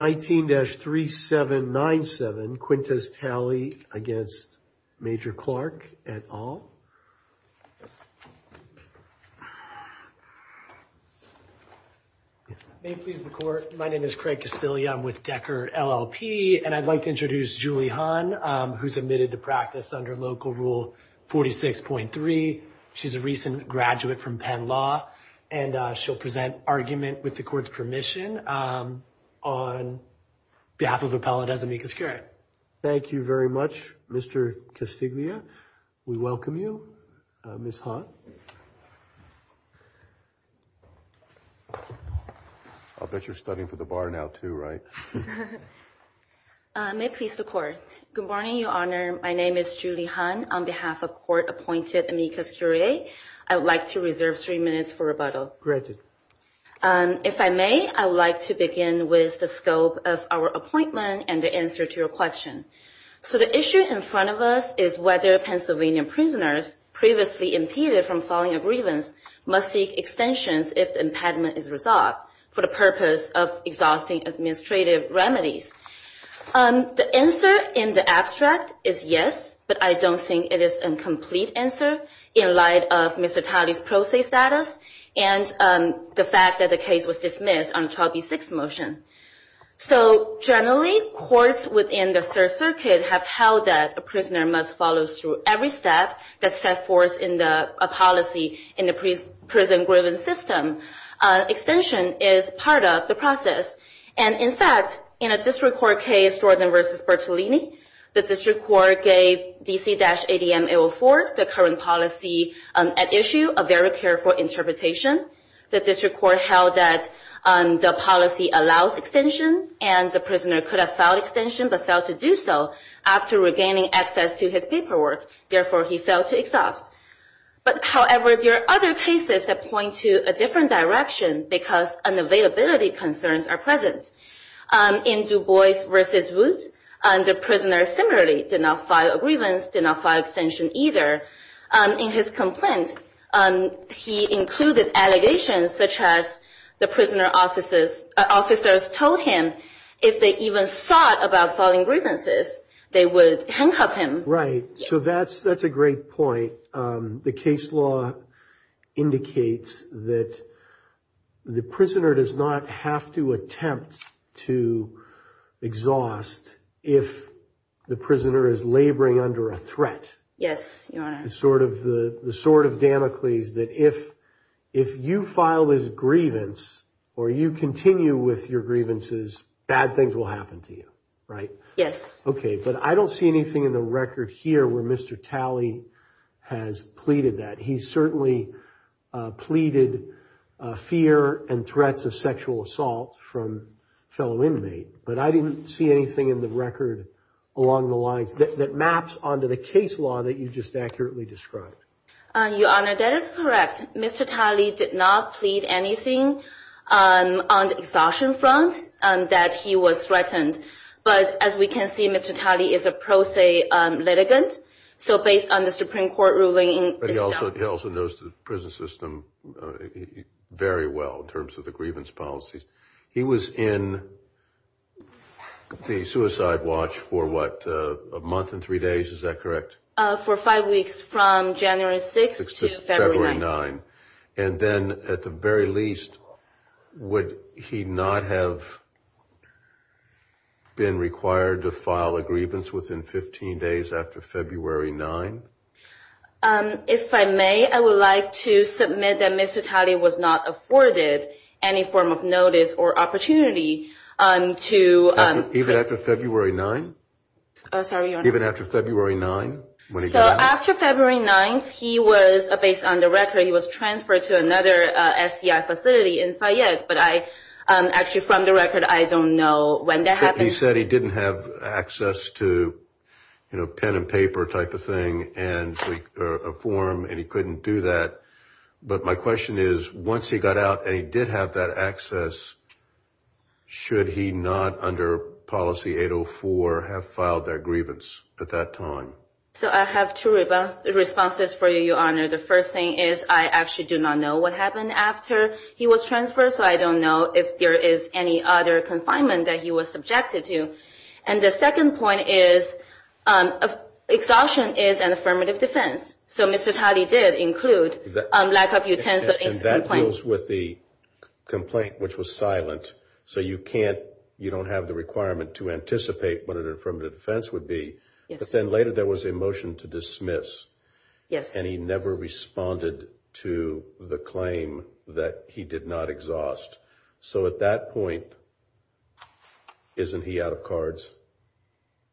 19-3797, Quintus Talley against Major Clark et al. May it please the court, my name is Craig Casillia, I'm with Decker LLP, and I'd like to introduce Julie Hahn, who's admitted to practice under Local Rule 46.3. She's a recent graduate from Penn Law, and she'll present argument with the court's permission on behalf of Appellate as amicus curiae. Thank you very much, Mr. Casillia. We welcome you, Ms. Hahn. I'll bet you're studying for the bar now, too, right? May it please the court. Good morning, Your Honor. My name is Julie Hahn, on behalf of court-appointed amicus curiae. I would like to reserve three minutes for rebuttal. Granted. If I may, I would like to begin with the scope of our appointment and the answer to your question. So the issue in front of us is whether Pennsylvania prisoners previously impeded from filing a grievance must seek extensions if the impediment is resolved for the purpose of exhausting administrative remedies. The answer in the abstract is yes, but I don't think it is a complete answer in light of Mr. Talley's pro se status and the fact that the case was dismissed on the Child v. Six motion. So generally, courts within the Third Circuit have held that a prisoner must follow through every step that's set forth in the policy in the prison-driven system. Extension is part of the process. And in fact, in a district court case, Jordan v. Bertolini, the district court gave DC-ADM 804, the current policy at issue, a very careful interpretation. The district court held that the policy allows extension and the prisoner could have filed extension but failed to do so after regaining access to his paperwork. Therefore, he failed to exhaust. However, there are other cases that point to a different direction because unavailability concerns are present. In Du Bois v. Woot, the prisoner similarly did not file a grievance, did not file extension either. In his complaint, he included allegations such as the prisoner officers told him if they even thought about filing grievances, they would handcuff him. Right, so that's a great point. The case law indicates that the prisoner does not have to attempt to exhaust if the prisoner is laboring under a threat. Yes, Your Honor. It's sort of the sword of Damocles that if you file this grievance or you continue with your grievances, bad things will happen to you, right? Yes. Okay, but I don't see anything in the record here where Mr. Talley has pleaded that. He certainly pleaded fear and threats of sexual assault from fellow inmates. But I didn't see anything in the record along the lines that maps onto the case law that you just accurately described. Your Honor, that is correct. Mr. Talley did not plead anything on the exhaustion front that he was threatened. But as we can see, Mr. Talley is a pro se litigant, so based on the Supreme Court ruling. But he also knows the prison system very well in terms of the grievance policies. He was in the suicide watch for what, a month and three days, is that correct? For five weeks from January 6th to February 9th. And then at the very least, would he not have been required to file a grievance within 15 days after February 9th? If I may, I would like to submit that Mr. Talley was not afforded any form of notice or opportunity to. Even after February 9th? Sorry, Your Honor. Even after February 9th? So after February 9th, he was, based on the record, he was transferred to another SCI facility in Fayette. But I, actually from the record, I don't know when that happened. He said he didn't have access to, you know, pen and paper type of thing and a form, and he couldn't do that. But my question is, once he got out and he did have that access, should he not, under policy 804, have filed that grievance at that time? So I have two responses for you, Your Honor. The first thing is, I actually do not know what happened after he was transferred, so I don't know if there is any other confinement that he was subjected to. And the second point is, exhaustion is an affirmative defense. So Mr. Talley did include lack of utensils. And that goes with the complaint, which was silent. So you can't, you don't have the requirement to anticipate what an affirmative defense would be. But then later there was a motion to dismiss, and he never responded to the claim that he did not exhaust. So at that point, isn't he out of cards?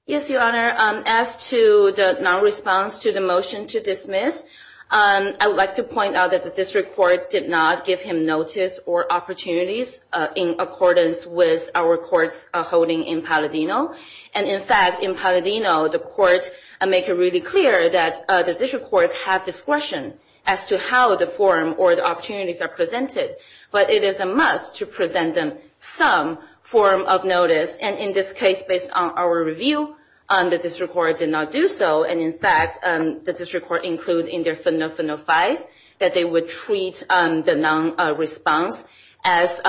Yes, Your Honor. As to the non-response to the motion to dismiss, I would like to point out that the district court did not give him notice or opportunities in accordance with our courts holding in Palladino. And, in fact, in Palladino, the courts make it really clear that the district courts have discretion as to how the forum or the opportunities are presented. But it is a must to present them some form of notice. And in this case, based on our review, the district court did not do so. And, in fact, the district court included in their Final Five that they would treat the non-response as,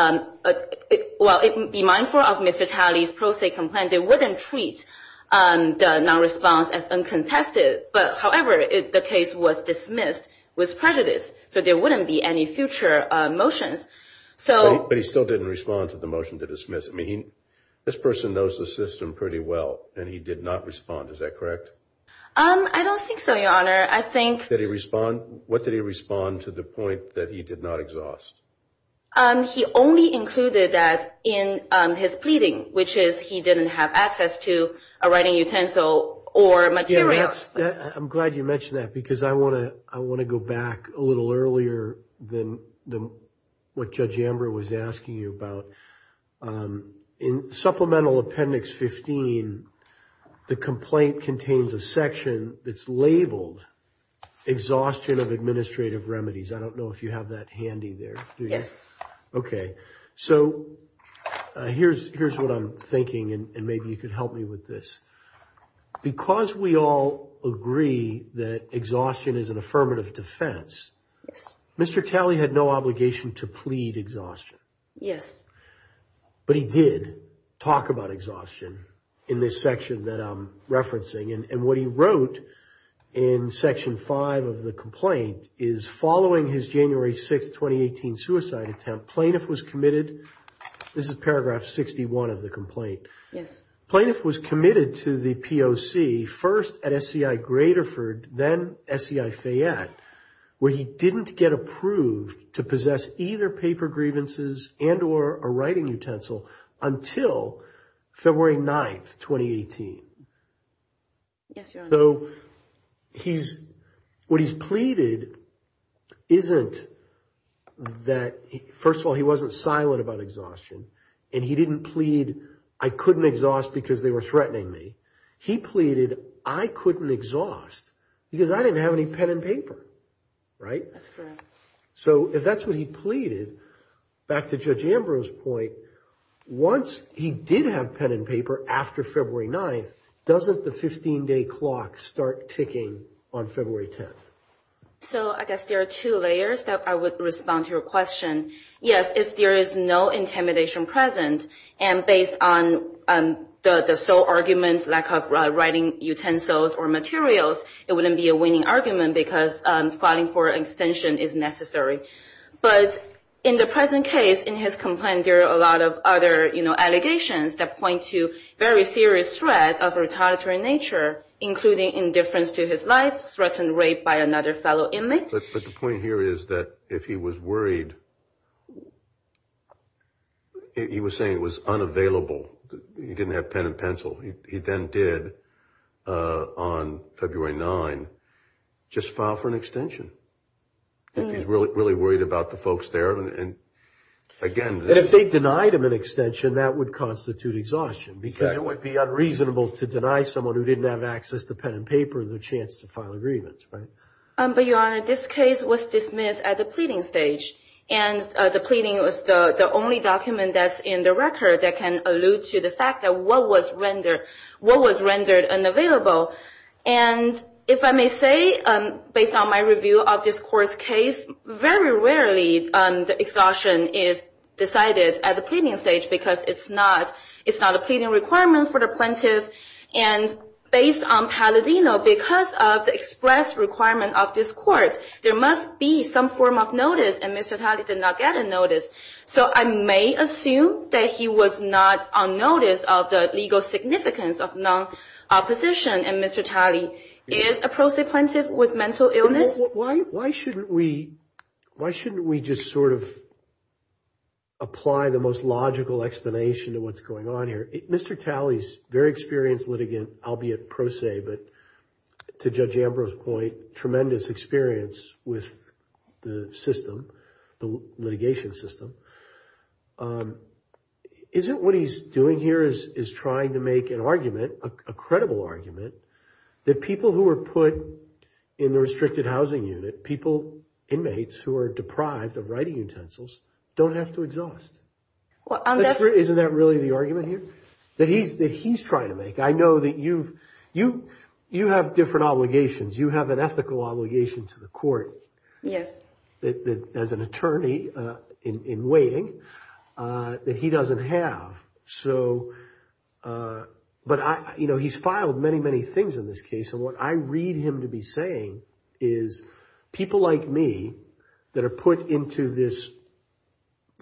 well, be mindful of Mr. Talley's pro se complaint, they wouldn't treat the non-response as uncontested. But, however, the case was dismissed with prejudice, so there wouldn't be any future motions. But he still didn't respond to the motion to dismiss. I mean, this person knows the system pretty well, and he did not respond. Is that correct? I don't think so, Your Honor. Did he respond? What did he respond to the point that he did not exhaust? He only included that in his pleading, which is he didn't have access to a writing utensil or materials. I'm glad you mentioned that because I want to go back a little earlier than what Judge Amber was asking you about. In Supplemental Appendix 15, the complaint contains a section that's labeled exhaustion of administrative remedies. I don't know if you have that handy there. Yes. Okay. So here's what I'm thinking, and maybe you can help me with this. Because we all agree that exhaustion is an affirmative defense, Mr. Talley had no obligation to plead exhaustion. Yes. But he did talk about exhaustion in this section that I'm referencing. And what he wrote in Section 5 of the complaint is following his January 6, 2018, suicide attempt, plaintiff was committed. This is Paragraph 61 of the complaint. Yes. Plaintiff was committed to the POC first at SCI Graterford, then SCI Fayette, where he didn't get approved to possess either paper grievances and or a writing utensil until February 9, 2018. Yes, Your Honor. So what he's pleaded isn't that, first of all, he wasn't silent about exhaustion. And he didn't plead, I couldn't exhaust because they were threatening me. He pleaded, I couldn't exhaust because I didn't have any pen and paper. Right? That's correct. So if that's what he pleaded, back to Judge Ambrose's point, once he did have pen and paper after February 9, doesn't the 15-day clock start ticking on February 10? So I guess there are two layers that I would respond to your question. Yes, if there is no intimidation present and based on the sole argument, lack of writing utensils or materials, it wouldn't be a winning argument because filing for extension is necessary. But in the present case, in his complaint, there are a lot of other, you know, allegations that point to very serious threat of retaliatory nature, including indifference to his life, threatened rape by another fellow inmate. But the point here is that if he was worried, he was saying it was unavailable, he didn't have pen and pencil. He then did, on February 9, just file for an extension if he's really worried about the folks there. And again, if they denied him an extension, that would constitute exhaustion because it would be unreasonable to deny someone who didn't have access to pen and paper the chance to file agreements. But, Your Honor, this case was dismissed at the pleading stage. And the pleading was the only document that's in the record that can allude to the fact of what was rendered unavailable. And if I may say, based on my review of this court's case, very rarely the exhaustion is decided at the pleading stage because it's not a pleading requirement for the plaintiff. And based on Palladino, because of the express requirement of this court, there must be some form of notice. And Mr. Talley did not get a notice. So I may assume that he was not on notice of the legal significance of non-opposition. And Mr. Talley is a prose plaintiff with mental illness. Why shouldn't we just sort of apply the most logical explanation to what's going on here? Mr. Talley is a very experienced litigant, albeit pro se, but to Judge Ambrose's point, tremendous experience with the system, the litigation system. Isn't what he's doing here is trying to make an argument, a credible argument, that people who are put in the restricted housing unit, people, inmates who are deprived of writing utensils, don't have to exhaust? Isn't that really the argument here that he's trying to make? I know that you have different obligations. You have an ethical obligation to the court. Yes. As an attorney in waiting, that he doesn't have. So, but he's filed many, many things in this case. And what I read him to be saying is people like me that are put into this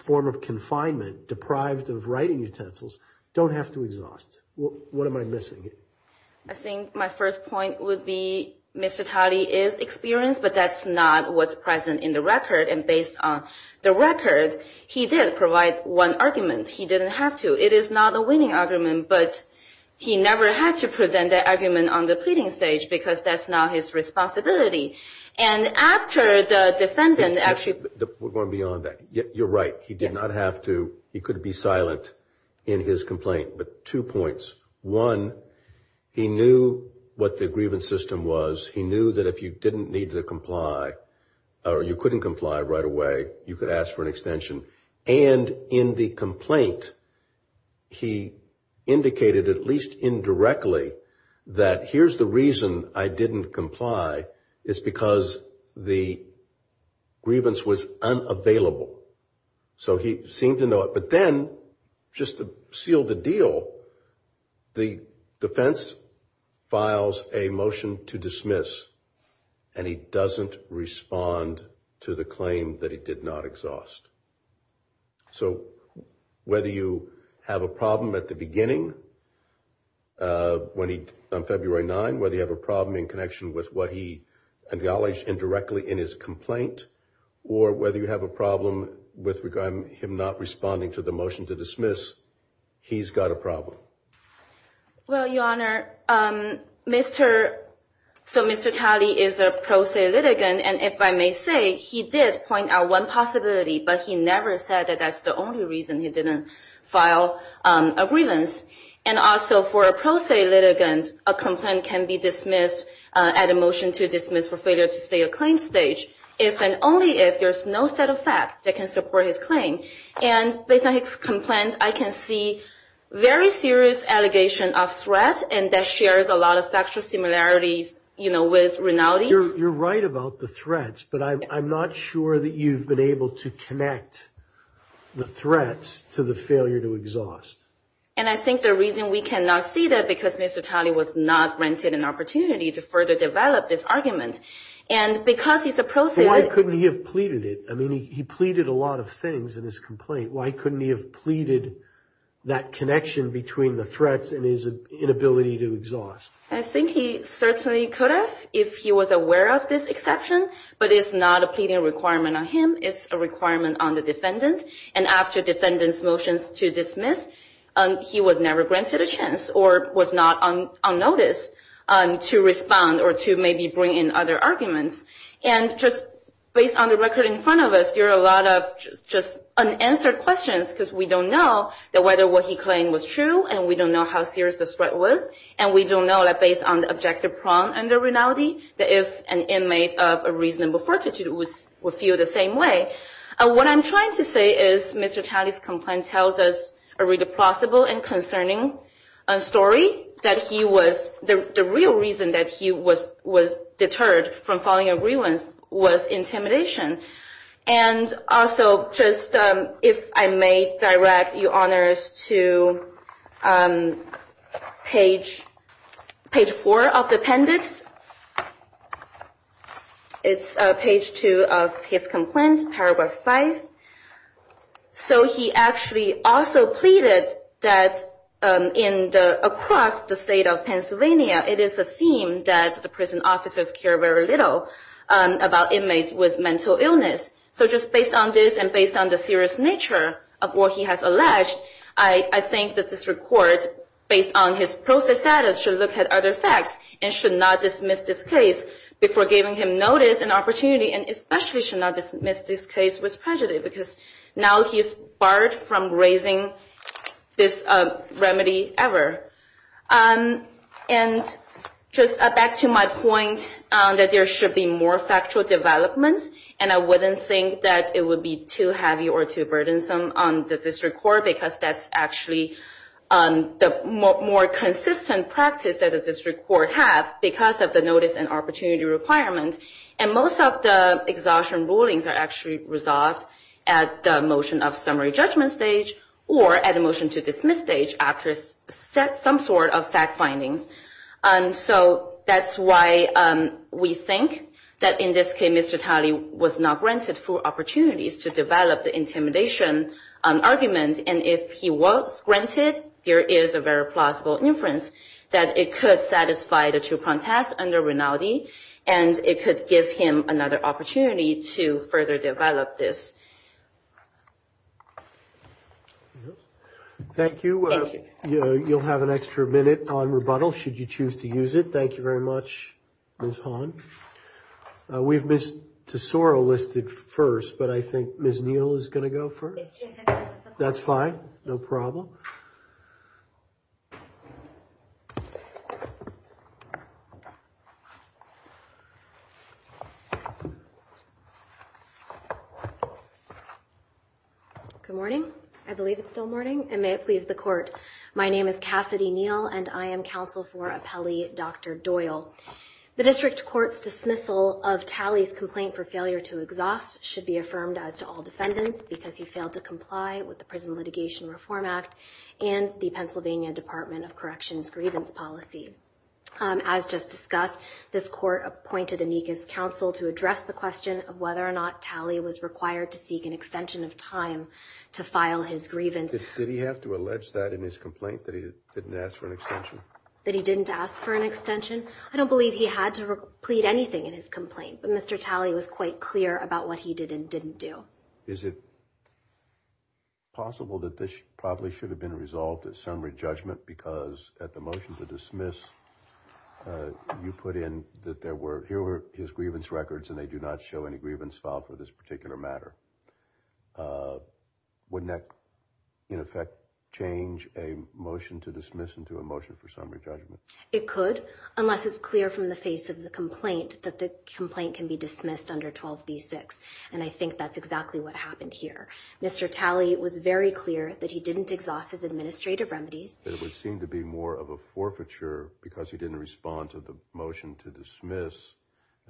form of confinement, deprived of writing utensils, don't have to exhaust. What am I missing? I think my first point would be Mr. Talley is experienced, but that's not what's present in the record. And based on the record, he did provide one argument. He didn't have to. It is not a winning argument, but he never had to present that argument on the pleading stage because that's not his responsibility. And after the defendant actually. We're going beyond that. You're right. He did not have to. He could be silent in his complaint. But two points. One, he knew what the grievance system was. He knew that if you didn't need to comply or you couldn't comply right away, you could ask for an extension. And in the complaint, he indicated at least indirectly that here's the reason I didn't comply. It's because the grievance was unavailable. So he seemed to know it. But then just to seal the deal, the defense files a motion to dismiss. And he doesn't respond to the claim that he did not exhaust. So whether you have a problem at the beginning. When he on February 9, whether you have a problem in connection with what he acknowledged indirectly in his complaint, or whether you have a problem with him not responding to the motion to dismiss, he's got a problem. Well, Your Honor, so Mr. Talley is a pro se litigant. And if I may say, he did point out one possibility, but he never said that that's the only reason he didn't file a grievance. And also for a pro se litigant, a complaint can be dismissed at a motion to dismiss for failure to stay a claim stage, if and only if there's no set of facts that can support his claim. And based on his complaint, I can see very serious allegation of threat. And that shares a lot of factual similarities, you know, with Rinaldi. You're right about the threats, but I'm not sure that you've been able to connect the threats to the failure to exhaust. And I think the reason we cannot see that because Mr. Talley was not granted an opportunity to further develop this argument. And because he's a pro se. Why couldn't he have pleaded it? I mean, he pleaded a lot of things in his complaint. Why couldn't he have pleaded that connection between the threats and his inability to exhaust? I think he certainly could have if he was aware of this exception. But it's not a pleading requirement on him. It's a requirement on the defendant. And after defendant's motions to dismiss, he was never granted a chance or was not on notice to respond or to maybe bring in other arguments. And just based on the record in front of us, there are a lot of just unanswered questions because we don't know whether what he claimed was true, and we don't know how serious the threat was. And we don't know, based on the objective prong under Rinaldi, that if an inmate of a reasonable fortitude would feel the same way. What I'm trying to say is Mr. Talley's complaint tells us a really plausible and concerning story, that the real reason that he was deterred from following agreements was intimidation. And also, just if I may direct your honors to page 4 of the appendix. It's page 2 of his complaint, paragraph 5. So he actually also pleaded that across the state of Pennsylvania, it is a theme that the prison officers care very little about inmates with mental illness. So just based on this and based on the serious nature of what he has alleged, I think that this report, based on his posted status, should look at other facts and should not dismiss this case before giving him notice and opportunity and especially should not dismiss this case with prejudice, because now he's barred from raising this remedy ever. And just back to my point that there should be more factual developments, and I wouldn't think that it would be too heavy or too burdensome on the district court, because that's actually the more consistent practice that the district court have, because of the notice and opportunity requirement. And most of the exhaustion rulings are actually resolved at the motion of summary judgment stage or at a motion to dismiss stage after some sort of fact findings. So that's why we think that in this case, Mr. Talley was not granted full opportunities to develop the intimidation argument. And if he was granted, there is a very plausible inference that it could satisfy the two protests under Rinaldi, and it could give him another opportunity to further develop this. Thank you. You'll have an extra minute on rebuttal should you choose to use it. Thank you very much, Ms. Han. We've missed Tesoro listed first, but I think Ms. Neal is going to go first. That's fine. No problem. Thank you. Good morning. I believe it's still morning, and may it please the court. My name is Cassidy Neal, and I am counsel for appellee Dr. Doyle. The district court's dismissal of Talley's complaint for failure to exhaust should be affirmed as to all defendants, because he failed to comply with the Prison Litigation Reform Act and the Pennsylvania Department of Corrections' grievance policy. As just discussed, this court appointed amicus counsel to address the question of whether or not Talley was required to seek an extension of time to file his grievance. Did he have to allege that in his complaint, that he didn't ask for an extension? That he didn't ask for an extension? I don't believe he had to plead anything in his complaint, but Mr. Talley was quite clear about what he did and didn't do. Is it possible that this probably should have been resolved at summary judgment because at the motion to dismiss, you put in that there were, here were his grievance records, and they do not show any grievance filed for this particular matter. Wouldn't that, in effect, change a motion to dismiss into a motion for summary judgment? It could, unless it's clear from the face of the complaint that the complaint can be dismissed under 12b-6, and I think that's exactly what happened here. Mr. Talley was very clear that he didn't exhaust his administrative remedies. But it would seem to be more of a forfeiture because he didn't respond to the motion to dismiss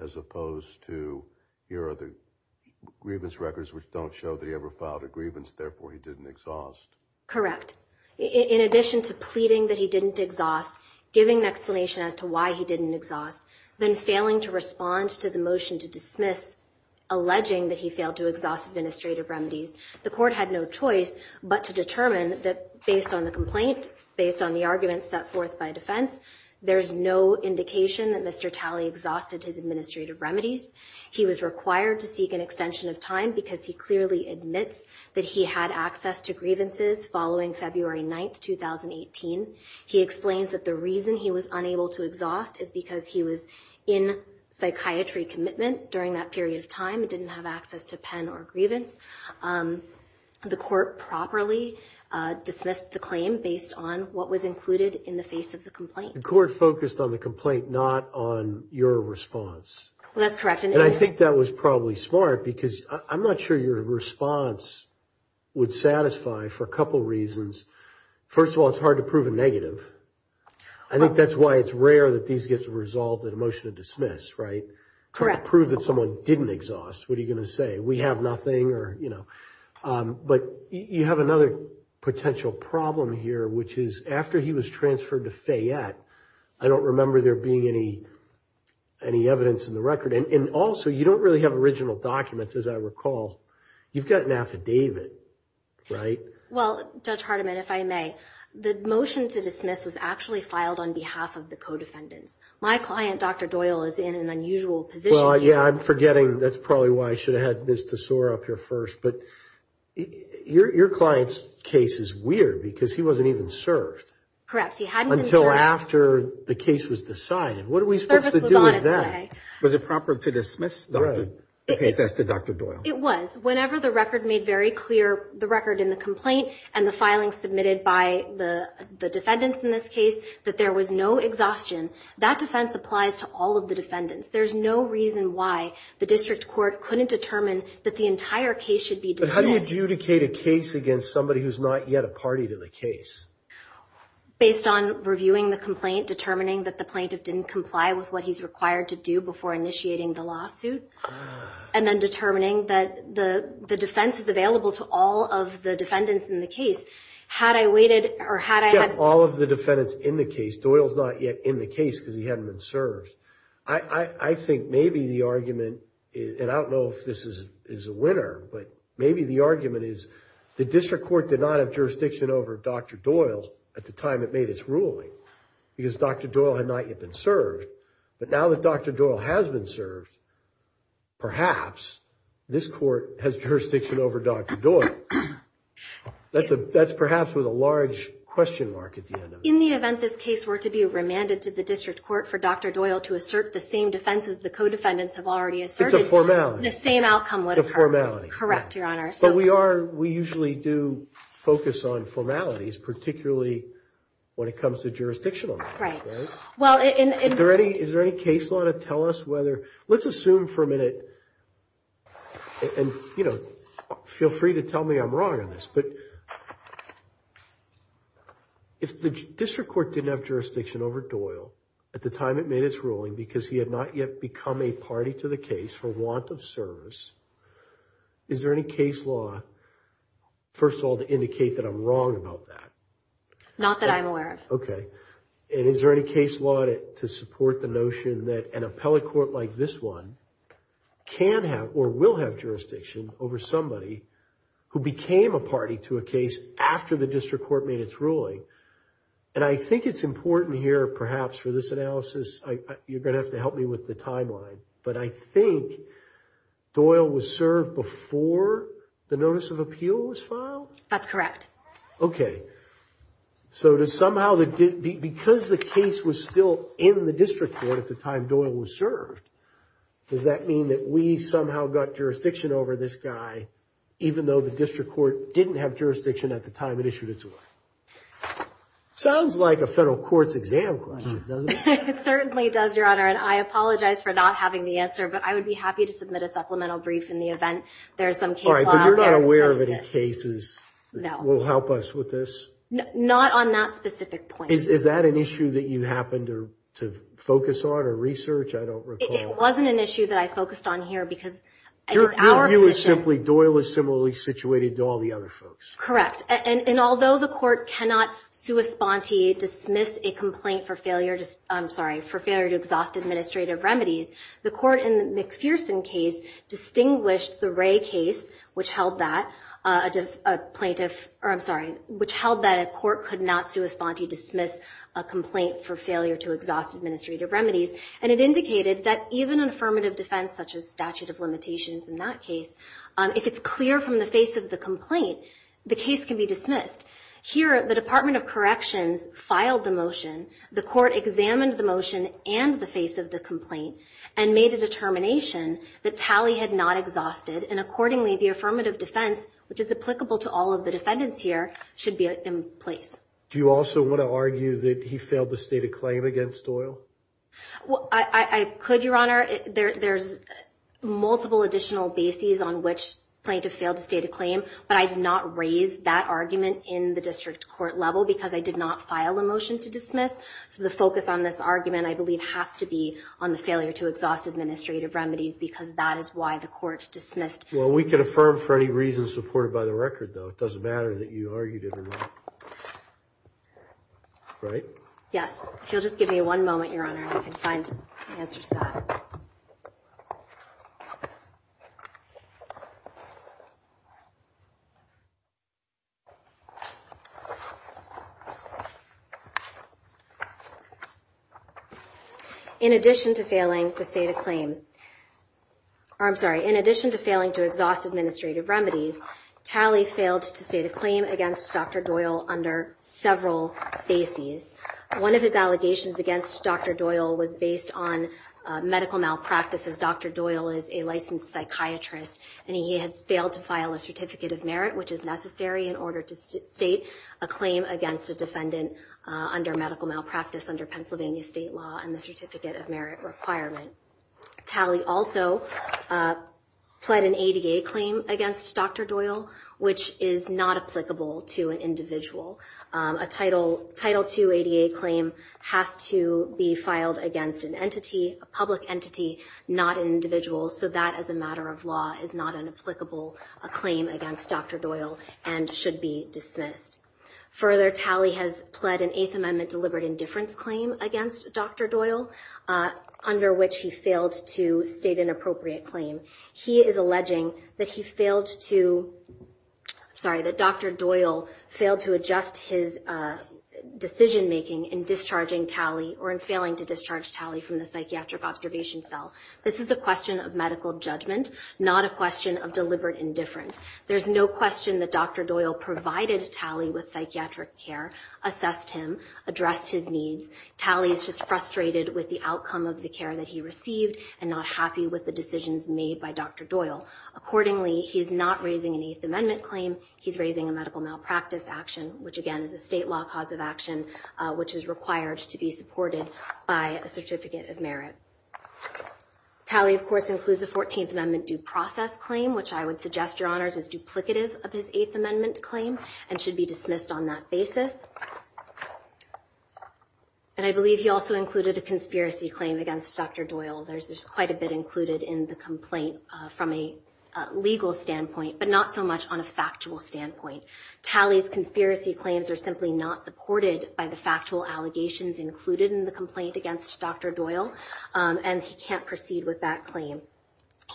as opposed to, here are the grievance records which don't show that he ever filed a grievance, therefore he didn't exhaust. Correct. In addition to pleading that he didn't exhaust, giving an explanation as to why he didn't exhaust, then failing to respond to the motion to dismiss, alleging that he failed to exhaust administrative remedies, the court had no choice but to determine that based on the complaint, based on the arguments set forth by defense, there's no indication that Mr. Talley exhausted his administrative remedies. He was required to seek an extension of time because he clearly admits that he had access to grievances following February 9th, 2018. He explains that the reason he was unable to exhaust is because he was in psychiatry commitment during that period of time and didn't have access to pen or grievance. The court properly dismissed the claim based on what was included in the face of the complaint. The court focused on the complaint, not on your response. That's correct. And I think that was probably smart because I'm not sure your response would satisfy for a couple reasons. First of all, it's hard to prove a negative. I think that's why it's rare that these get resolved in a motion to dismiss, right? Correct. To prove that someone didn't exhaust, what are you going to say? We have nothing or, you know. But you have another potential problem here, which is after he was transferred to Fayette, I don't remember there being any evidence in the record. And also, you don't really have original documents, as I recall. You've got an affidavit, right? Well, Judge Hardiman, if I may, the motion to dismiss was actually filed on behalf of the co-defendants. My client, Dr. Doyle, is in an unusual position here. Well, yeah, I'm forgetting. That's probably why I should have had Ms. Tesora up here first. But your client's case is weird because he wasn't even served. Correct. He hadn't been served. Until after the case was decided. What are we supposed to do with that? Was it proper to dismiss the case as to Dr. Doyle? It was. Whenever the record made very clear, the record in the complaint and the filing submitted by the defendants in this case, that there was no exhaustion. That defense applies to all of the defendants. There's no reason why the district court couldn't determine that the entire case should be dismissed. But how do you adjudicate a case against somebody who's not yet a party to the case? Based on reviewing the complaint, determining that the plaintiff didn't comply with what he's required to do before initiating the lawsuit, and then determining that the defense is available to all of the defendants in the case. Had I waited or had I had- Except all of the defendants in the case. Doyle's not yet in the case because he hadn't been served. I think maybe the argument, and I don't know if this is a winner, but maybe the argument is the district court did not have jurisdiction over Dr. Doyle at the time it made its ruling because Dr. Doyle had not yet been served. But now that Dr. Doyle has been served, perhaps this court has jurisdiction over Dr. Doyle. That's perhaps with a large question mark at the end of it. In the event this case were to be remanded to the district court for Dr. Doyle to assert the same defense as the co-defendants have already asserted- It's a formality. The same outcome would occur. It's a formality. Correct, Your Honor. But we usually do focus on formalities, particularly when it comes to jurisdictional matters. Right. Is there any case law to tell us whether- Let's assume for a minute, and feel free to tell me I'm wrong on this, but if the district court didn't have jurisdiction over Doyle at the time it made its ruling because he had not yet become a party to the case for want of service, is there any case law, first of all, to indicate that I'm wrong about that? Not that I'm aware of. Okay. Is there any case law to support the notion that an appellate court like this one can have or will have jurisdiction over somebody who became a party to a case after the district court made its ruling? I think it's important here, perhaps for this analysis, you're going to have to help me with the timeline, but I think Doyle was served before the notice of appeal was filed? That's correct. Okay. Because the case was still in the district court at the time Doyle was served, does that mean that we somehow got jurisdiction over this guy even though the district court didn't have jurisdiction at the time it issued its ruling? Sounds like a federal court's exam question, doesn't it? It certainly does, Your Honor, and I apologize for not having the answer, but I would be happy to submit a supplemental brief in the event there is some case law- All right, but you're not aware of any cases that will help us with this? Not on that specific point. Is that an issue that you happened to focus on or research? I don't recall. It wasn't an issue that I focused on here because our position- Your view is simply Doyle is similarly situated to all the other folks. Correct. And although the court cannot sua sponte dismiss a complaint for failure to- I'm sorry, for failure to exhaust administrative remedies, the court in the McPherson case distinguished the Ray case, which held that a plaintiff- I'm sorry, which held that a court could not sua sponte dismiss a complaint for failure to exhaust administrative remedies, and it indicated that even an affirmative defense such as statute of limitations in that case, if it's clear from the face of the complaint, the case can be dismissed. Here, the Department of Corrections filed the motion. The court examined the motion and the face of the complaint and made a determination that Talley had not exhausted, and accordingly, the affirmative defense, which is applicable to all of the defendants here, should be in place. Do you also want to argue that he failed to state a claim against Doyle? I could, Your Honor. There's multiple additional bases on which plaintiff failed to state a claim, but I did not raise that argument in the district court level because I did not file a motion to dismiss. So the focus on this argument, I believe, has to be on the failure to exhaust administrative remedies because that is why the court dismissed. Well, we can affirm for any reason supported by the record, though. It doesn't matter that you argued it or not. Right? Yes. If you'll just give me one moment, Your Honor, and I can find the answer to that. In addition to failing to state a claim to exhaust administrative remedies, Talley failed to state a claim against Dr. Doyle under several bases. One of his allegations against Dr. Doyle was based on medical malpractices. Dr. Doyle is a licensed psychiatrist, and he has failed to file a certificate of merit, which is necessary in order to state a claim against a defendant under medical malpractice under Pennsylvania state law and the certificate of merit requirement. Talley also pled an ADA claim against Dr. Doyle, which is not applicable to an individual. A Title II ADA claim has to be filed against an entity, a public entity, not an individual, so that, as a matter of law, is not an applicable claim against Dr. Doyle and should be dismissed. Further, Talley has pled an Eighth Amendment deliberate indifference claim against Dr. Doyle, under which he failed to state an appropriate claim. He is alleging that he failed to, sorry, that Dr. Doyle failed to adjust his decision-making in discharging Talley or in failing to discharge Talley from the psychiatric observation cell. This is a question of medical judgment, not a question of deliberate indifference. There's no question that Dr. Doyle provided Talley with psychiatric care, assessed him, addressed his needs. Talley is just frustrated with the outcome of the care that he received and not happy with the decisions made by Dr. Doyle. Accordingly, he is not raising an Eighth Amendment claim. He's raising a medical malpractice action, which, again, is a state law cause of action, which is required to be supported by a certificate of merit. Talley, of course, includes a Fourteenth Amendment due process claim, which I would suggest, Your Honors, is duplicative of his Eighth Amendment claim and should be dismissed on that basis. And I believe he also included a conspiracy claim against Dr. Doyle. There's quite a bit included in the complaint from a legal standpoint, but not so much on a factual standpoint. Talley's conspiracy claims are simply not supported by the factual allegations included in the complaint against Dr. Doyle, and he can't proceed with that claim.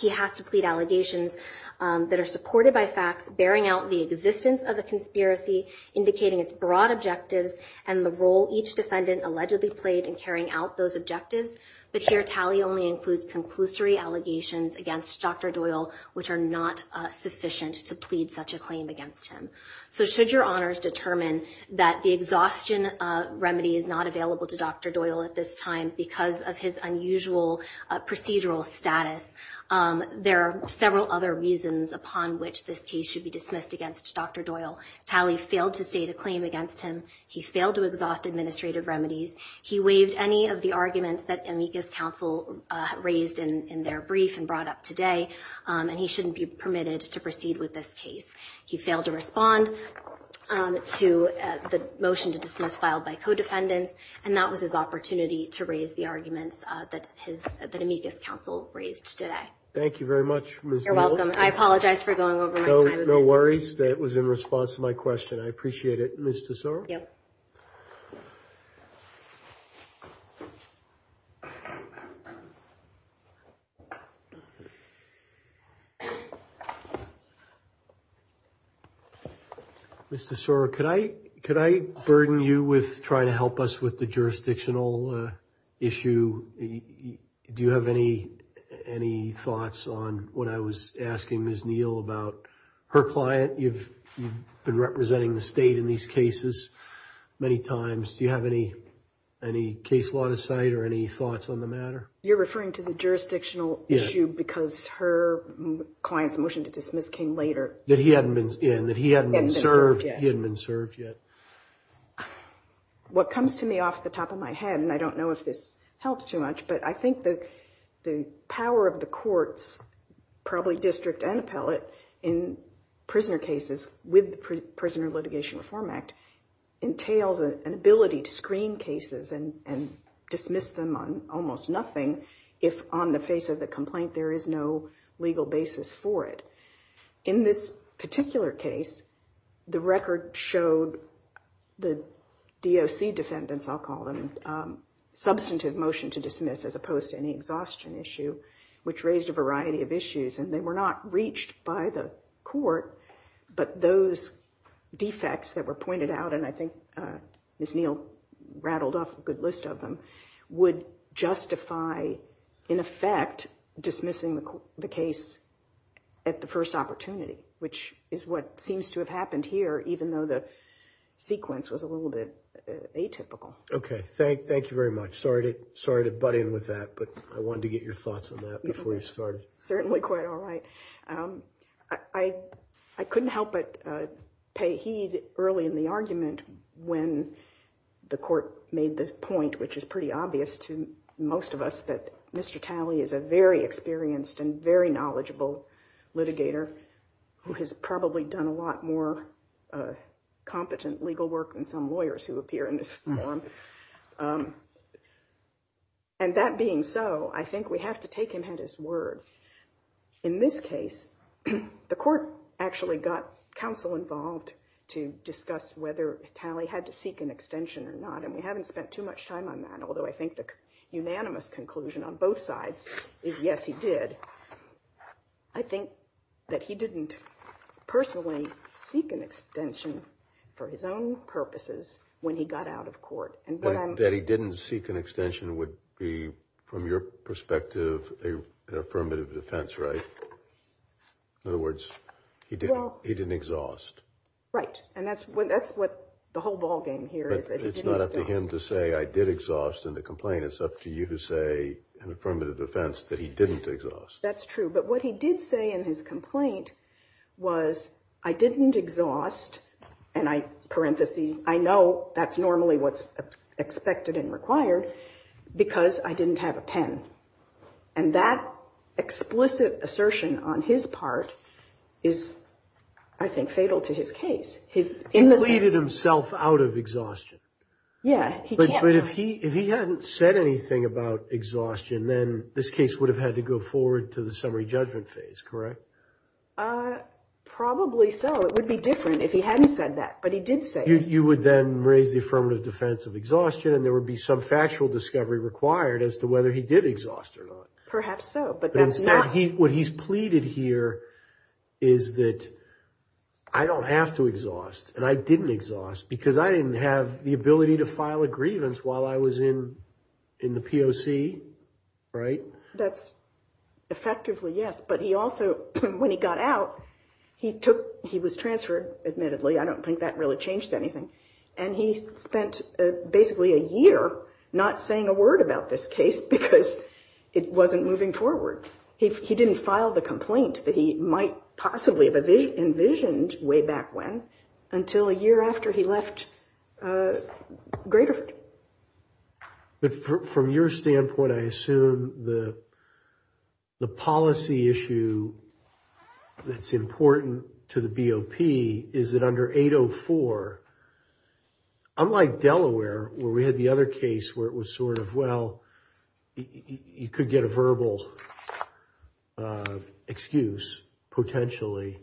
He has to plead allegations that are supported by facts, bearing out the existence of the conspiracy, indicating its broad objectives and the role each defendant allegedly played in carrying out those objectives. But here Talley only includes conclusory allegations against Dr. Doyle, which are not sufficient to plead such a claim against him. So should Your Honors determine that the exhaustion remedy is not available to Dr. Doyle at this time because of his unusual procedural status, there are several other reasons upon which this case should be dismissed against Dr. Doyle. Talley failed to state a claim against him. He failed to exhaust administrative remedies. He waived any of the arguments that amicus counsel raised in their brief and brought up today, and he shouldn't be permitted to proceed with this case. He failed to respond to the motion to dismiss filed by co-defendants, and that was his opportunity to raise the arguments that amicus counsel raised today. Thank you very much, Ms. Doyle. You're welcome. I apologize for going over my time again. No worries. That was in response to my question. I appreciate it. Ms. Tesoro? Yep. Mr. Tesoro, could I burden you with trying to help us with the jurisdictional issue? Do you have any thoughts on what I was asking Ms. Neal about her client? You've been representing the state in these cases many times. Do you have any case law to cite or any thoughts on the matter? You're referring to the jurisdictional issue because her client's motion to dismiss came later. That he hadn't been served yet. He hadn't been served yet. What comes to me off the top of my head, and I don't know if this helps too much, but I think the power of the courts, probably district and appellate, in prisoner cases with the Prisoner Litigation Reform Act entails an ability to screen cases and dismiss them on almost nothing if on the face of the complaint there is no legal basis for it. In this particular case, the record showed the DOC defendants, I'll call them, substantive motion to dismiss as opposed to any exhaustion issue, which raised a variety of issues. And they were not reached by the court, but those defects that were pointed out, and I think Ms. Neal rattled off a good list of them, would justify, in effect, dismissing the case at the first opportunity, which is what seems to have happened here, even though the sequence was a little bit atypical. Okay. Thank you very much. Sorry to butt in with that, but I wanted to get your thoughts on that before you started. Certainly quite all right. I couldn't help but pay heed early in the argument when the court made the point, which is pretty obvious to most of us, that Mr. Talley is a very experienced and very knowledgeable litigator who has probably done a lot more competent legal work than some lawyers who appear in this form. And that being so, I think we have to take him at his word. In this case, the court actually got counsel involved to discuss whether Talley had to seek an extension or not, and we haven't spent too much time on that, although I think the unanimous conclusion on both sides is yes, he did. I think that he didn't personally seek an extension for his own purposes when he got out of court. That he didn't seek an extension would be, from your perspective, an affirmative defense, right? In other words, he didn't exhaust. Right, and that's what the whole ballgame here is that he didn't exhaust. And to complain, it's up to you to say in affirmative defense that he didn't exhaust. That's true, but what he did say in his complaint was, I didn't exhaust, and I, parenthesis, I know that's normally what's expected and required, because I didn't have a pen. And that explicit assertion on his part is, I think, fatal to his case. He pleaded himself out of exhaustion. Yeah. But if he hadn't said anything about exhaustion, then this case would have had to go forward to the summary judgment phase, correct? Probably so. It would be different if he hadn't said that, but he did say it. You would then raise the affirmative defense of exhaustion, and there would be some factual discovery required as to whether he did exhaust or not. Perhaps so, but that's not. What he's pleaded here is that I don't have to exhaust, and I didn't exhaust, because I didn't have the ability to file a grievance while I was in the POC, right? That's effectively yes, but he also, when he got out, he was transferred, admittedly. I don't think that really changed anything. And he spent basically a year not saying a word about this case because it wasn't moving forward. He didn't file the complaint that he might possibly have envisioned way back when until a year after he left Graterford. But from your standpoint, I assume the policy issue that's important to the BOP is that under 804, unlike Delaware where we had the other case where it was sort of, well, you could get a verbal excuse potentially,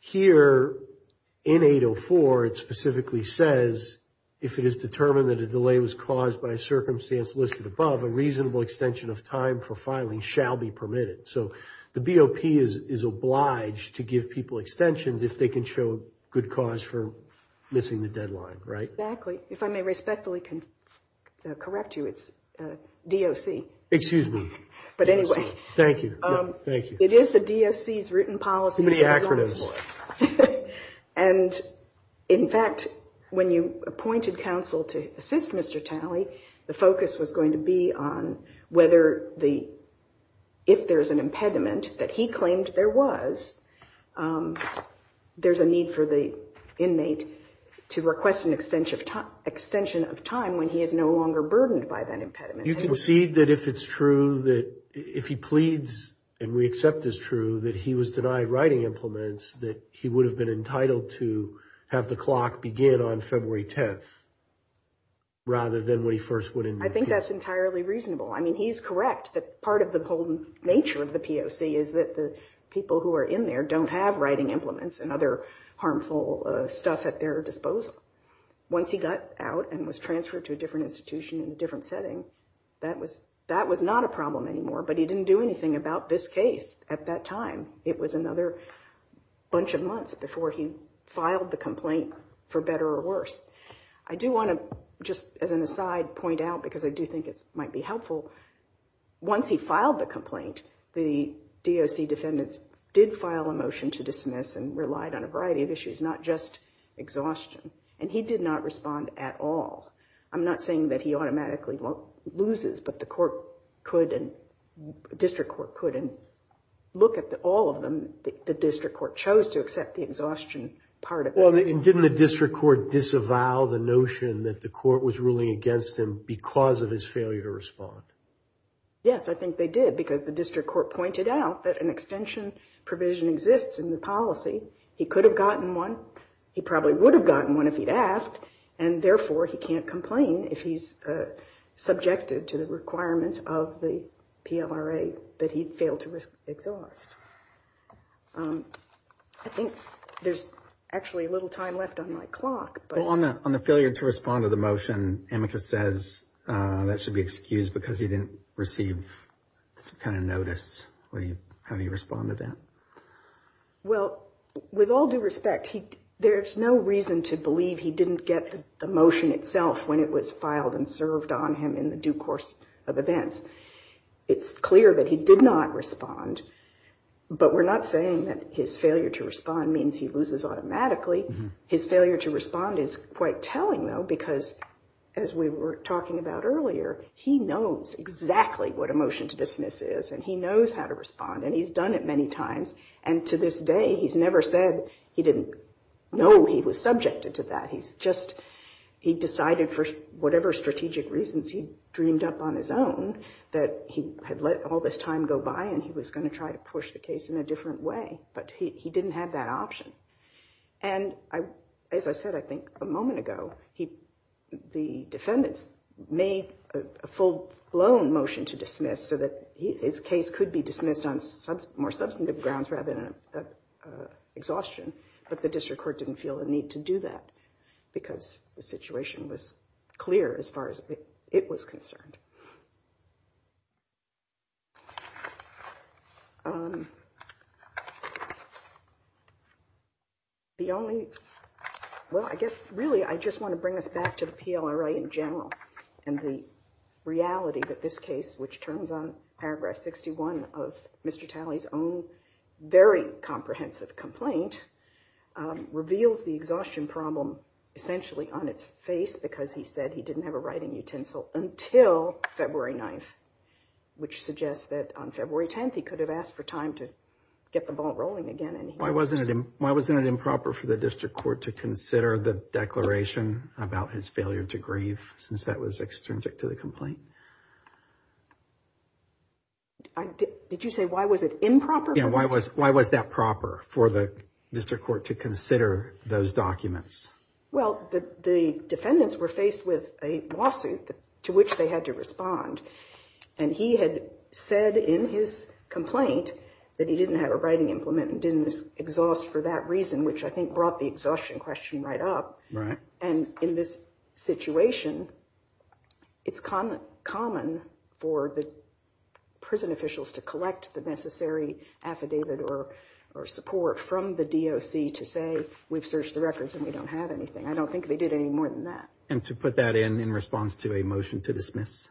here in 804 it specifically says if it is determined that a delay was caused by a circumstance listed above, a reasonable extension of time for filing shall be permitted. So the BOP is obliged to give people extensions if they can show good cause for missing the deadline, right? Exactly. If I may respectfully correct you, it's DOC. Excuse me. But anyway. Thank you. It is the DOC's written policy. And in fact, when you appointed counsel to assist Mr. Talley, the focus was going to be on whether if there's an impediment that he claimed there was, there's a need for the inmate to request an extension of time when he is no longer burdened by that impediment. You can see that if it's true that if he pleads, and we accept this true, that he was denied writing implements, that he would have been entitled to have the clock begin on February 10th rather than when he first went in. I think that's entirely reasonable. I mean, he's correct that part of the whole nature of the POC is that the people who are in there don't have writing implements and other harmful stuff at their disposal. Once he got out and was transferred to a different institution in a different setting, that was not a problem anymore. But he didn't do anything about this case at that time. It was another bunch of months before he filed the complaint for better or worse. I do want to just, as an aside, point out, because I do think it might be helpful, once he filed the complaint, the DOC defendants did file a motion to dismiss and relied on a variety of issues, not just exhaustion, and he did not respond at all. I'm not saying that he automatically loses, but the court could, the district court could, and look at all of them, the district court chose to accept the exhaustion part of it. Well, and didn't the district court disavow the notion that the court was ruling against him because of his failure to respond? Yes, I think they did, because the district court pointed out that an extension provision exists in the policy. He could have gotten one, he probably would have gotten one if he'd asked, and therefore he can't complain if he's subjected to the requirements of the PLRA that he failed to exhaust. I think there's actually a little time left on my clock. Well, on the failure to respond to the motion, Amicus says that should be excused because he didn't receive some kind of notice. How do you respond to that? Well, with all due respect, there's no reason to believe he didn't get the motion itself when it was filed and served on him in the due course of events. It's clear that he did not respond, but we're not saying that his failure to respond means he loses automatically. His failure to respond is quite telling, though, because, as we were talking about earlier, he knows exactly what a motion to dismiss is, and he knows how to respond, and he's done it many times, and to this day he's never said he didn't know he was subjected to that. He decided for whatever strategic reasons he dreamed up on his own that he had let all this time go by and he was going to try to push the case in a different way, but he didn't have that option. And as I said, I think, a moment ago, the defendants made a full-blown motion to dismiss so that his case could be dismissed on more substantive grounds rather than exhaustion, but the district court didn't feel the need to do that because the situation was clear as far as it was concerned. The only, well, I guess, really, I just want to bring us back to the PLRA in general and the reality that this case, which turns on paragraph 61 of Mr. Talley's own very comprehensive complaint, reveals the exhaustion problem essentially on its face because he said he didn't have a writing utensil until February 9th, which suggests that on February 10th he could have asked for time to get the ball rolling again. Why wasn't it improper for the district court to consider the declaration about his failure to grieve since that was extrinsic to the complaint? Did you say why was it improper? Yeah, why was that proper for the district court to consider those documents? Well, the defendants were faced with a lawsuit to which they had to respond and he had said in his complaint that he didn't have a writing implement and didn't exhaust for that reason, which I think brought the exhaustion question right up. And in this situation, it's common for the prison officials to collect the necessary affidavit or support from the DOC to say, we've searched the records and we don't have anything. I don't think they did any more than that. And to put that in in response to a motion to dismiss?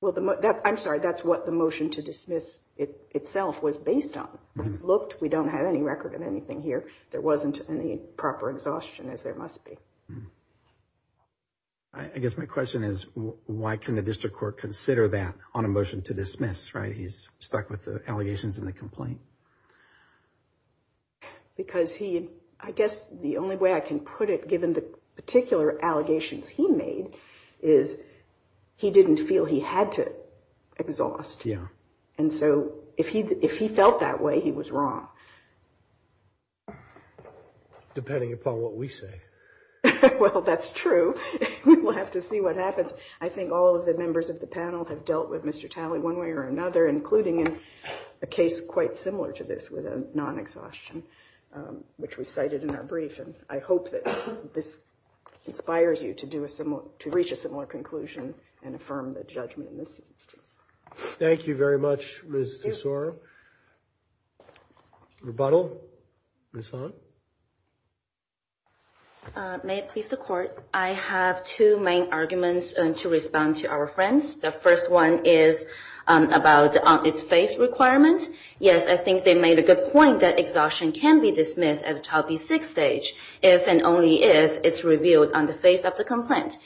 Well, I'm sorry, that's what the motion to dismiss itself was based on. Looked, we don't have any record of anything here. There wasn't any proper exhaustion as there must be. I guess my question is, why can the district court consider that on a motion to dismiss, right? He's stuck with the allegations in the complaint. Because he, I guess the only way I can put it, given the particular allegations he made, is he didn't feel he had to exhaust. Yeah. And so if he felt that way, he was wrong. Depending upon what we say. Well, that's true. We'll have to see what happens. I think all of the members of the panel have dealt with Mr. Talley one way or another, including in a case quite similar to this with a non-exhaustion, which we cited in our brief. And I hope that this inspires you to reach a similar conclusion and affirm the judgment in this instance. Thank you very much, Ms. Tesoro. Rebuttal? Ms. Han? May it please the court. I have two main arguments to respond to our friends. The first one is about its face requirement. Yes, I think they made a good point that exhaustion can be dismissed at the 12B6 stage, if and only if it's revealed on the face of the complaint.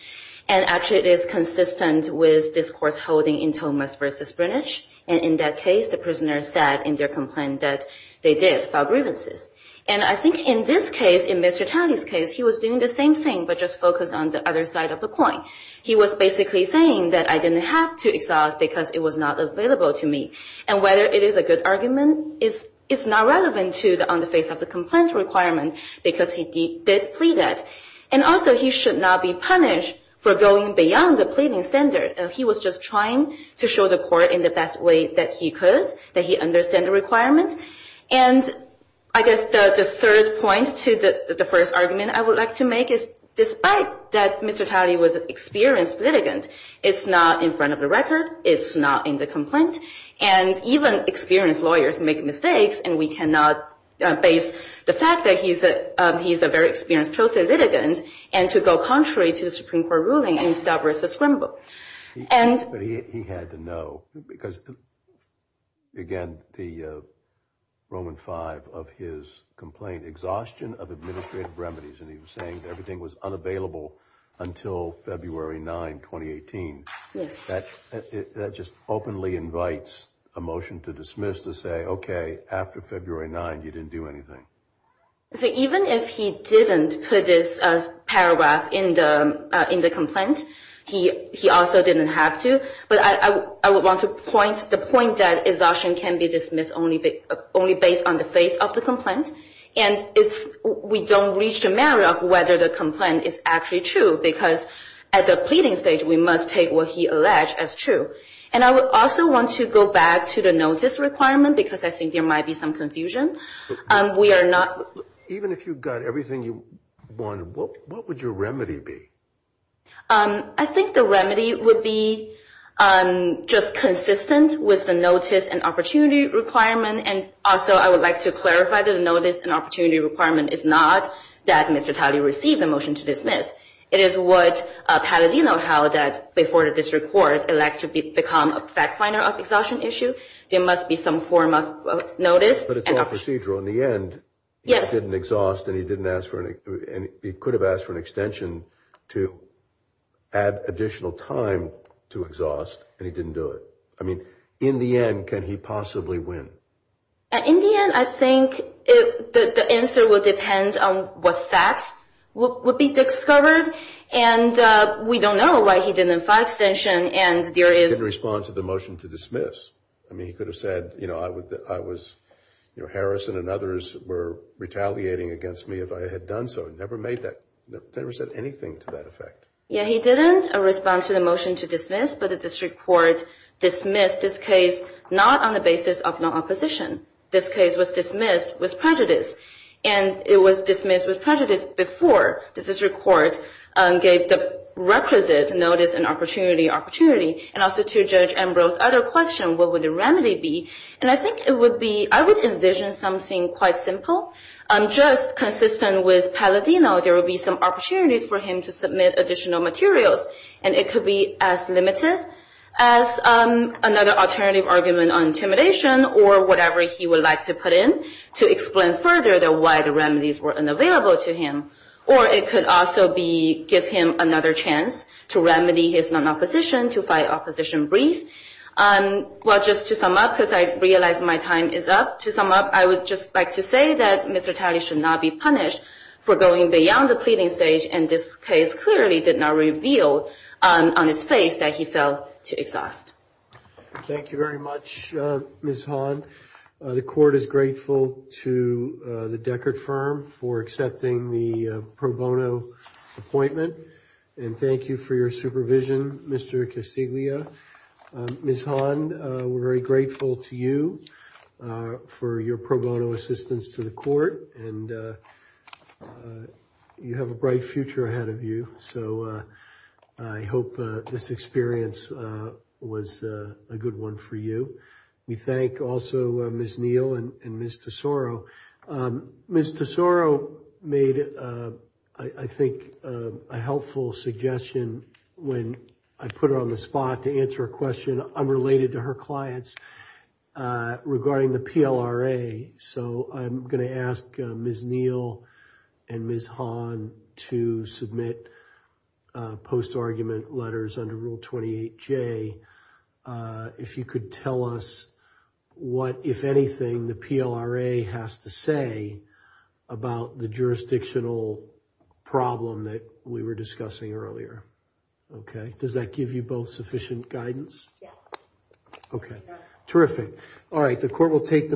And actually, it is consistent with this court's holding in Thomas v. Brunage. And in that case, the prisoner said in their complaint that they did file grievances. And I think in this case, in Mr. Talley's case, he was doing the same thing, but just focused on the other side of the coin. He was basically saying that I didn't have to exhaust because it was not available to me. And whether it is a good argument is not relevant on the face of the complaint requirement, because he did plead that. And also, he should not be punished for going beyond the pleading standard. He was just trying to show the court in the best way that he could, that he understood the requirement. And I guess the third point to the first argument I would like to make is, despite that Mr. Talley was an experienced litigant, it's not in front of the record. It's not in the complaint. And even experienced lawyers make mistakes, and we cannot base the fact that he's a very experienced pro se litigant and to go contrary to the Supreme Court ruling and establish a scramble. But he had to know, because, again, the Roman V of his complaint, exhaustion of administrative remedies, and he was saying everything was unavailable until February 9, 2018. Yes. That just openly invites a motion to dismiss to say, okay, after February 9, you didn't do anything. Even if he didn't put this paragraph in the complaint, he also didn't have to. But I would want to point the point that exhaustion can be dismissed only based on the face of the complaint. And we don't reach the matter of whether the complaint is actually true, because at the pleading stage, we must take what he alleged as true. And I would also want to go back to the notice requirement, because I think there might be some confusion. We are not. Even if you've got everything you want, what would your remedy be? I think the remedy would be just consistent with the notice and opportunity requirement. And also I would like to clarify that a notice and opportunity requirement is not that Mr. Talley received a motion to dismiss. It is what Palladino held that before the district court elects to become a fact finder of the exhaustion issue. There must be some form of notice. But it's all procedural. In the end, he didn't exhaust and he didn't ask for it. And he could have asked for an extension to add additional time to exhaust. And he didn't do it. I mean, in the end, can he possibly win? In the end, I think the answer will depend on what facts would be discovered. And we don't know why he didn't file extension. He didn't respond to the motion to dismiss. I mean, he could have said, you know, Harrison and others were retaliating against me if I had done so. He never said anything to that effect. Yeah, he didn't respond to the motion to dismiss, but the district court dismissed this case not on the basis of non-opposition. This case was dismissed with prejudice. And it was dismissed with prejudice before the district court gave the requisite notice and opportunity opportunity. And also to Judge Ambrose's other question, what would the remedy be? And I think it would be, I would envision something quite simple. Just consistent with Palladino, there would be some opportunities for him to submit additional materials. And it could be as limited as another alternative argument on intimidation or whatever he would like to put in to explain further why the remedies were unavailable to him. Or it could also give him another chance to remedy his non-opposition, to fight opposition brief. Well, just to sum up, because I realize my time is up, to sum up, I would just like to say that Mr. Talley should not be punished for going beyond the pleading stage. And this case clearly did not reveal on his face that he fell to exhaust. Thank you very much, Ms. Han. The court is grateful to the Deckert firm for accepting the pro bono appointment. And thank you for your supervision, Mr. Castiglia. Ms. Han, we're very grateful to you for your pro bono assistance to the court. And you have a bright future ahead of you. So I hope this experience was a good one for you. We thank also Ms. Neal and Ms. Tesoro. Ms. Tesoro made, I think, a helpful suggestion when I put her on the spot to answer a question unrelated to her clients regarding the PLRA. So I'm going to ask Ms. Neal and Ms. Han to submit post-argument letters under Rule 28J. If you could tell us what, if anything, the PLRA has to say about the jurisdictional problem that we were discussing earlier. OK, does that give you both sufficient guidance? Yeah. OK, terrific. All right, the court will take the motion.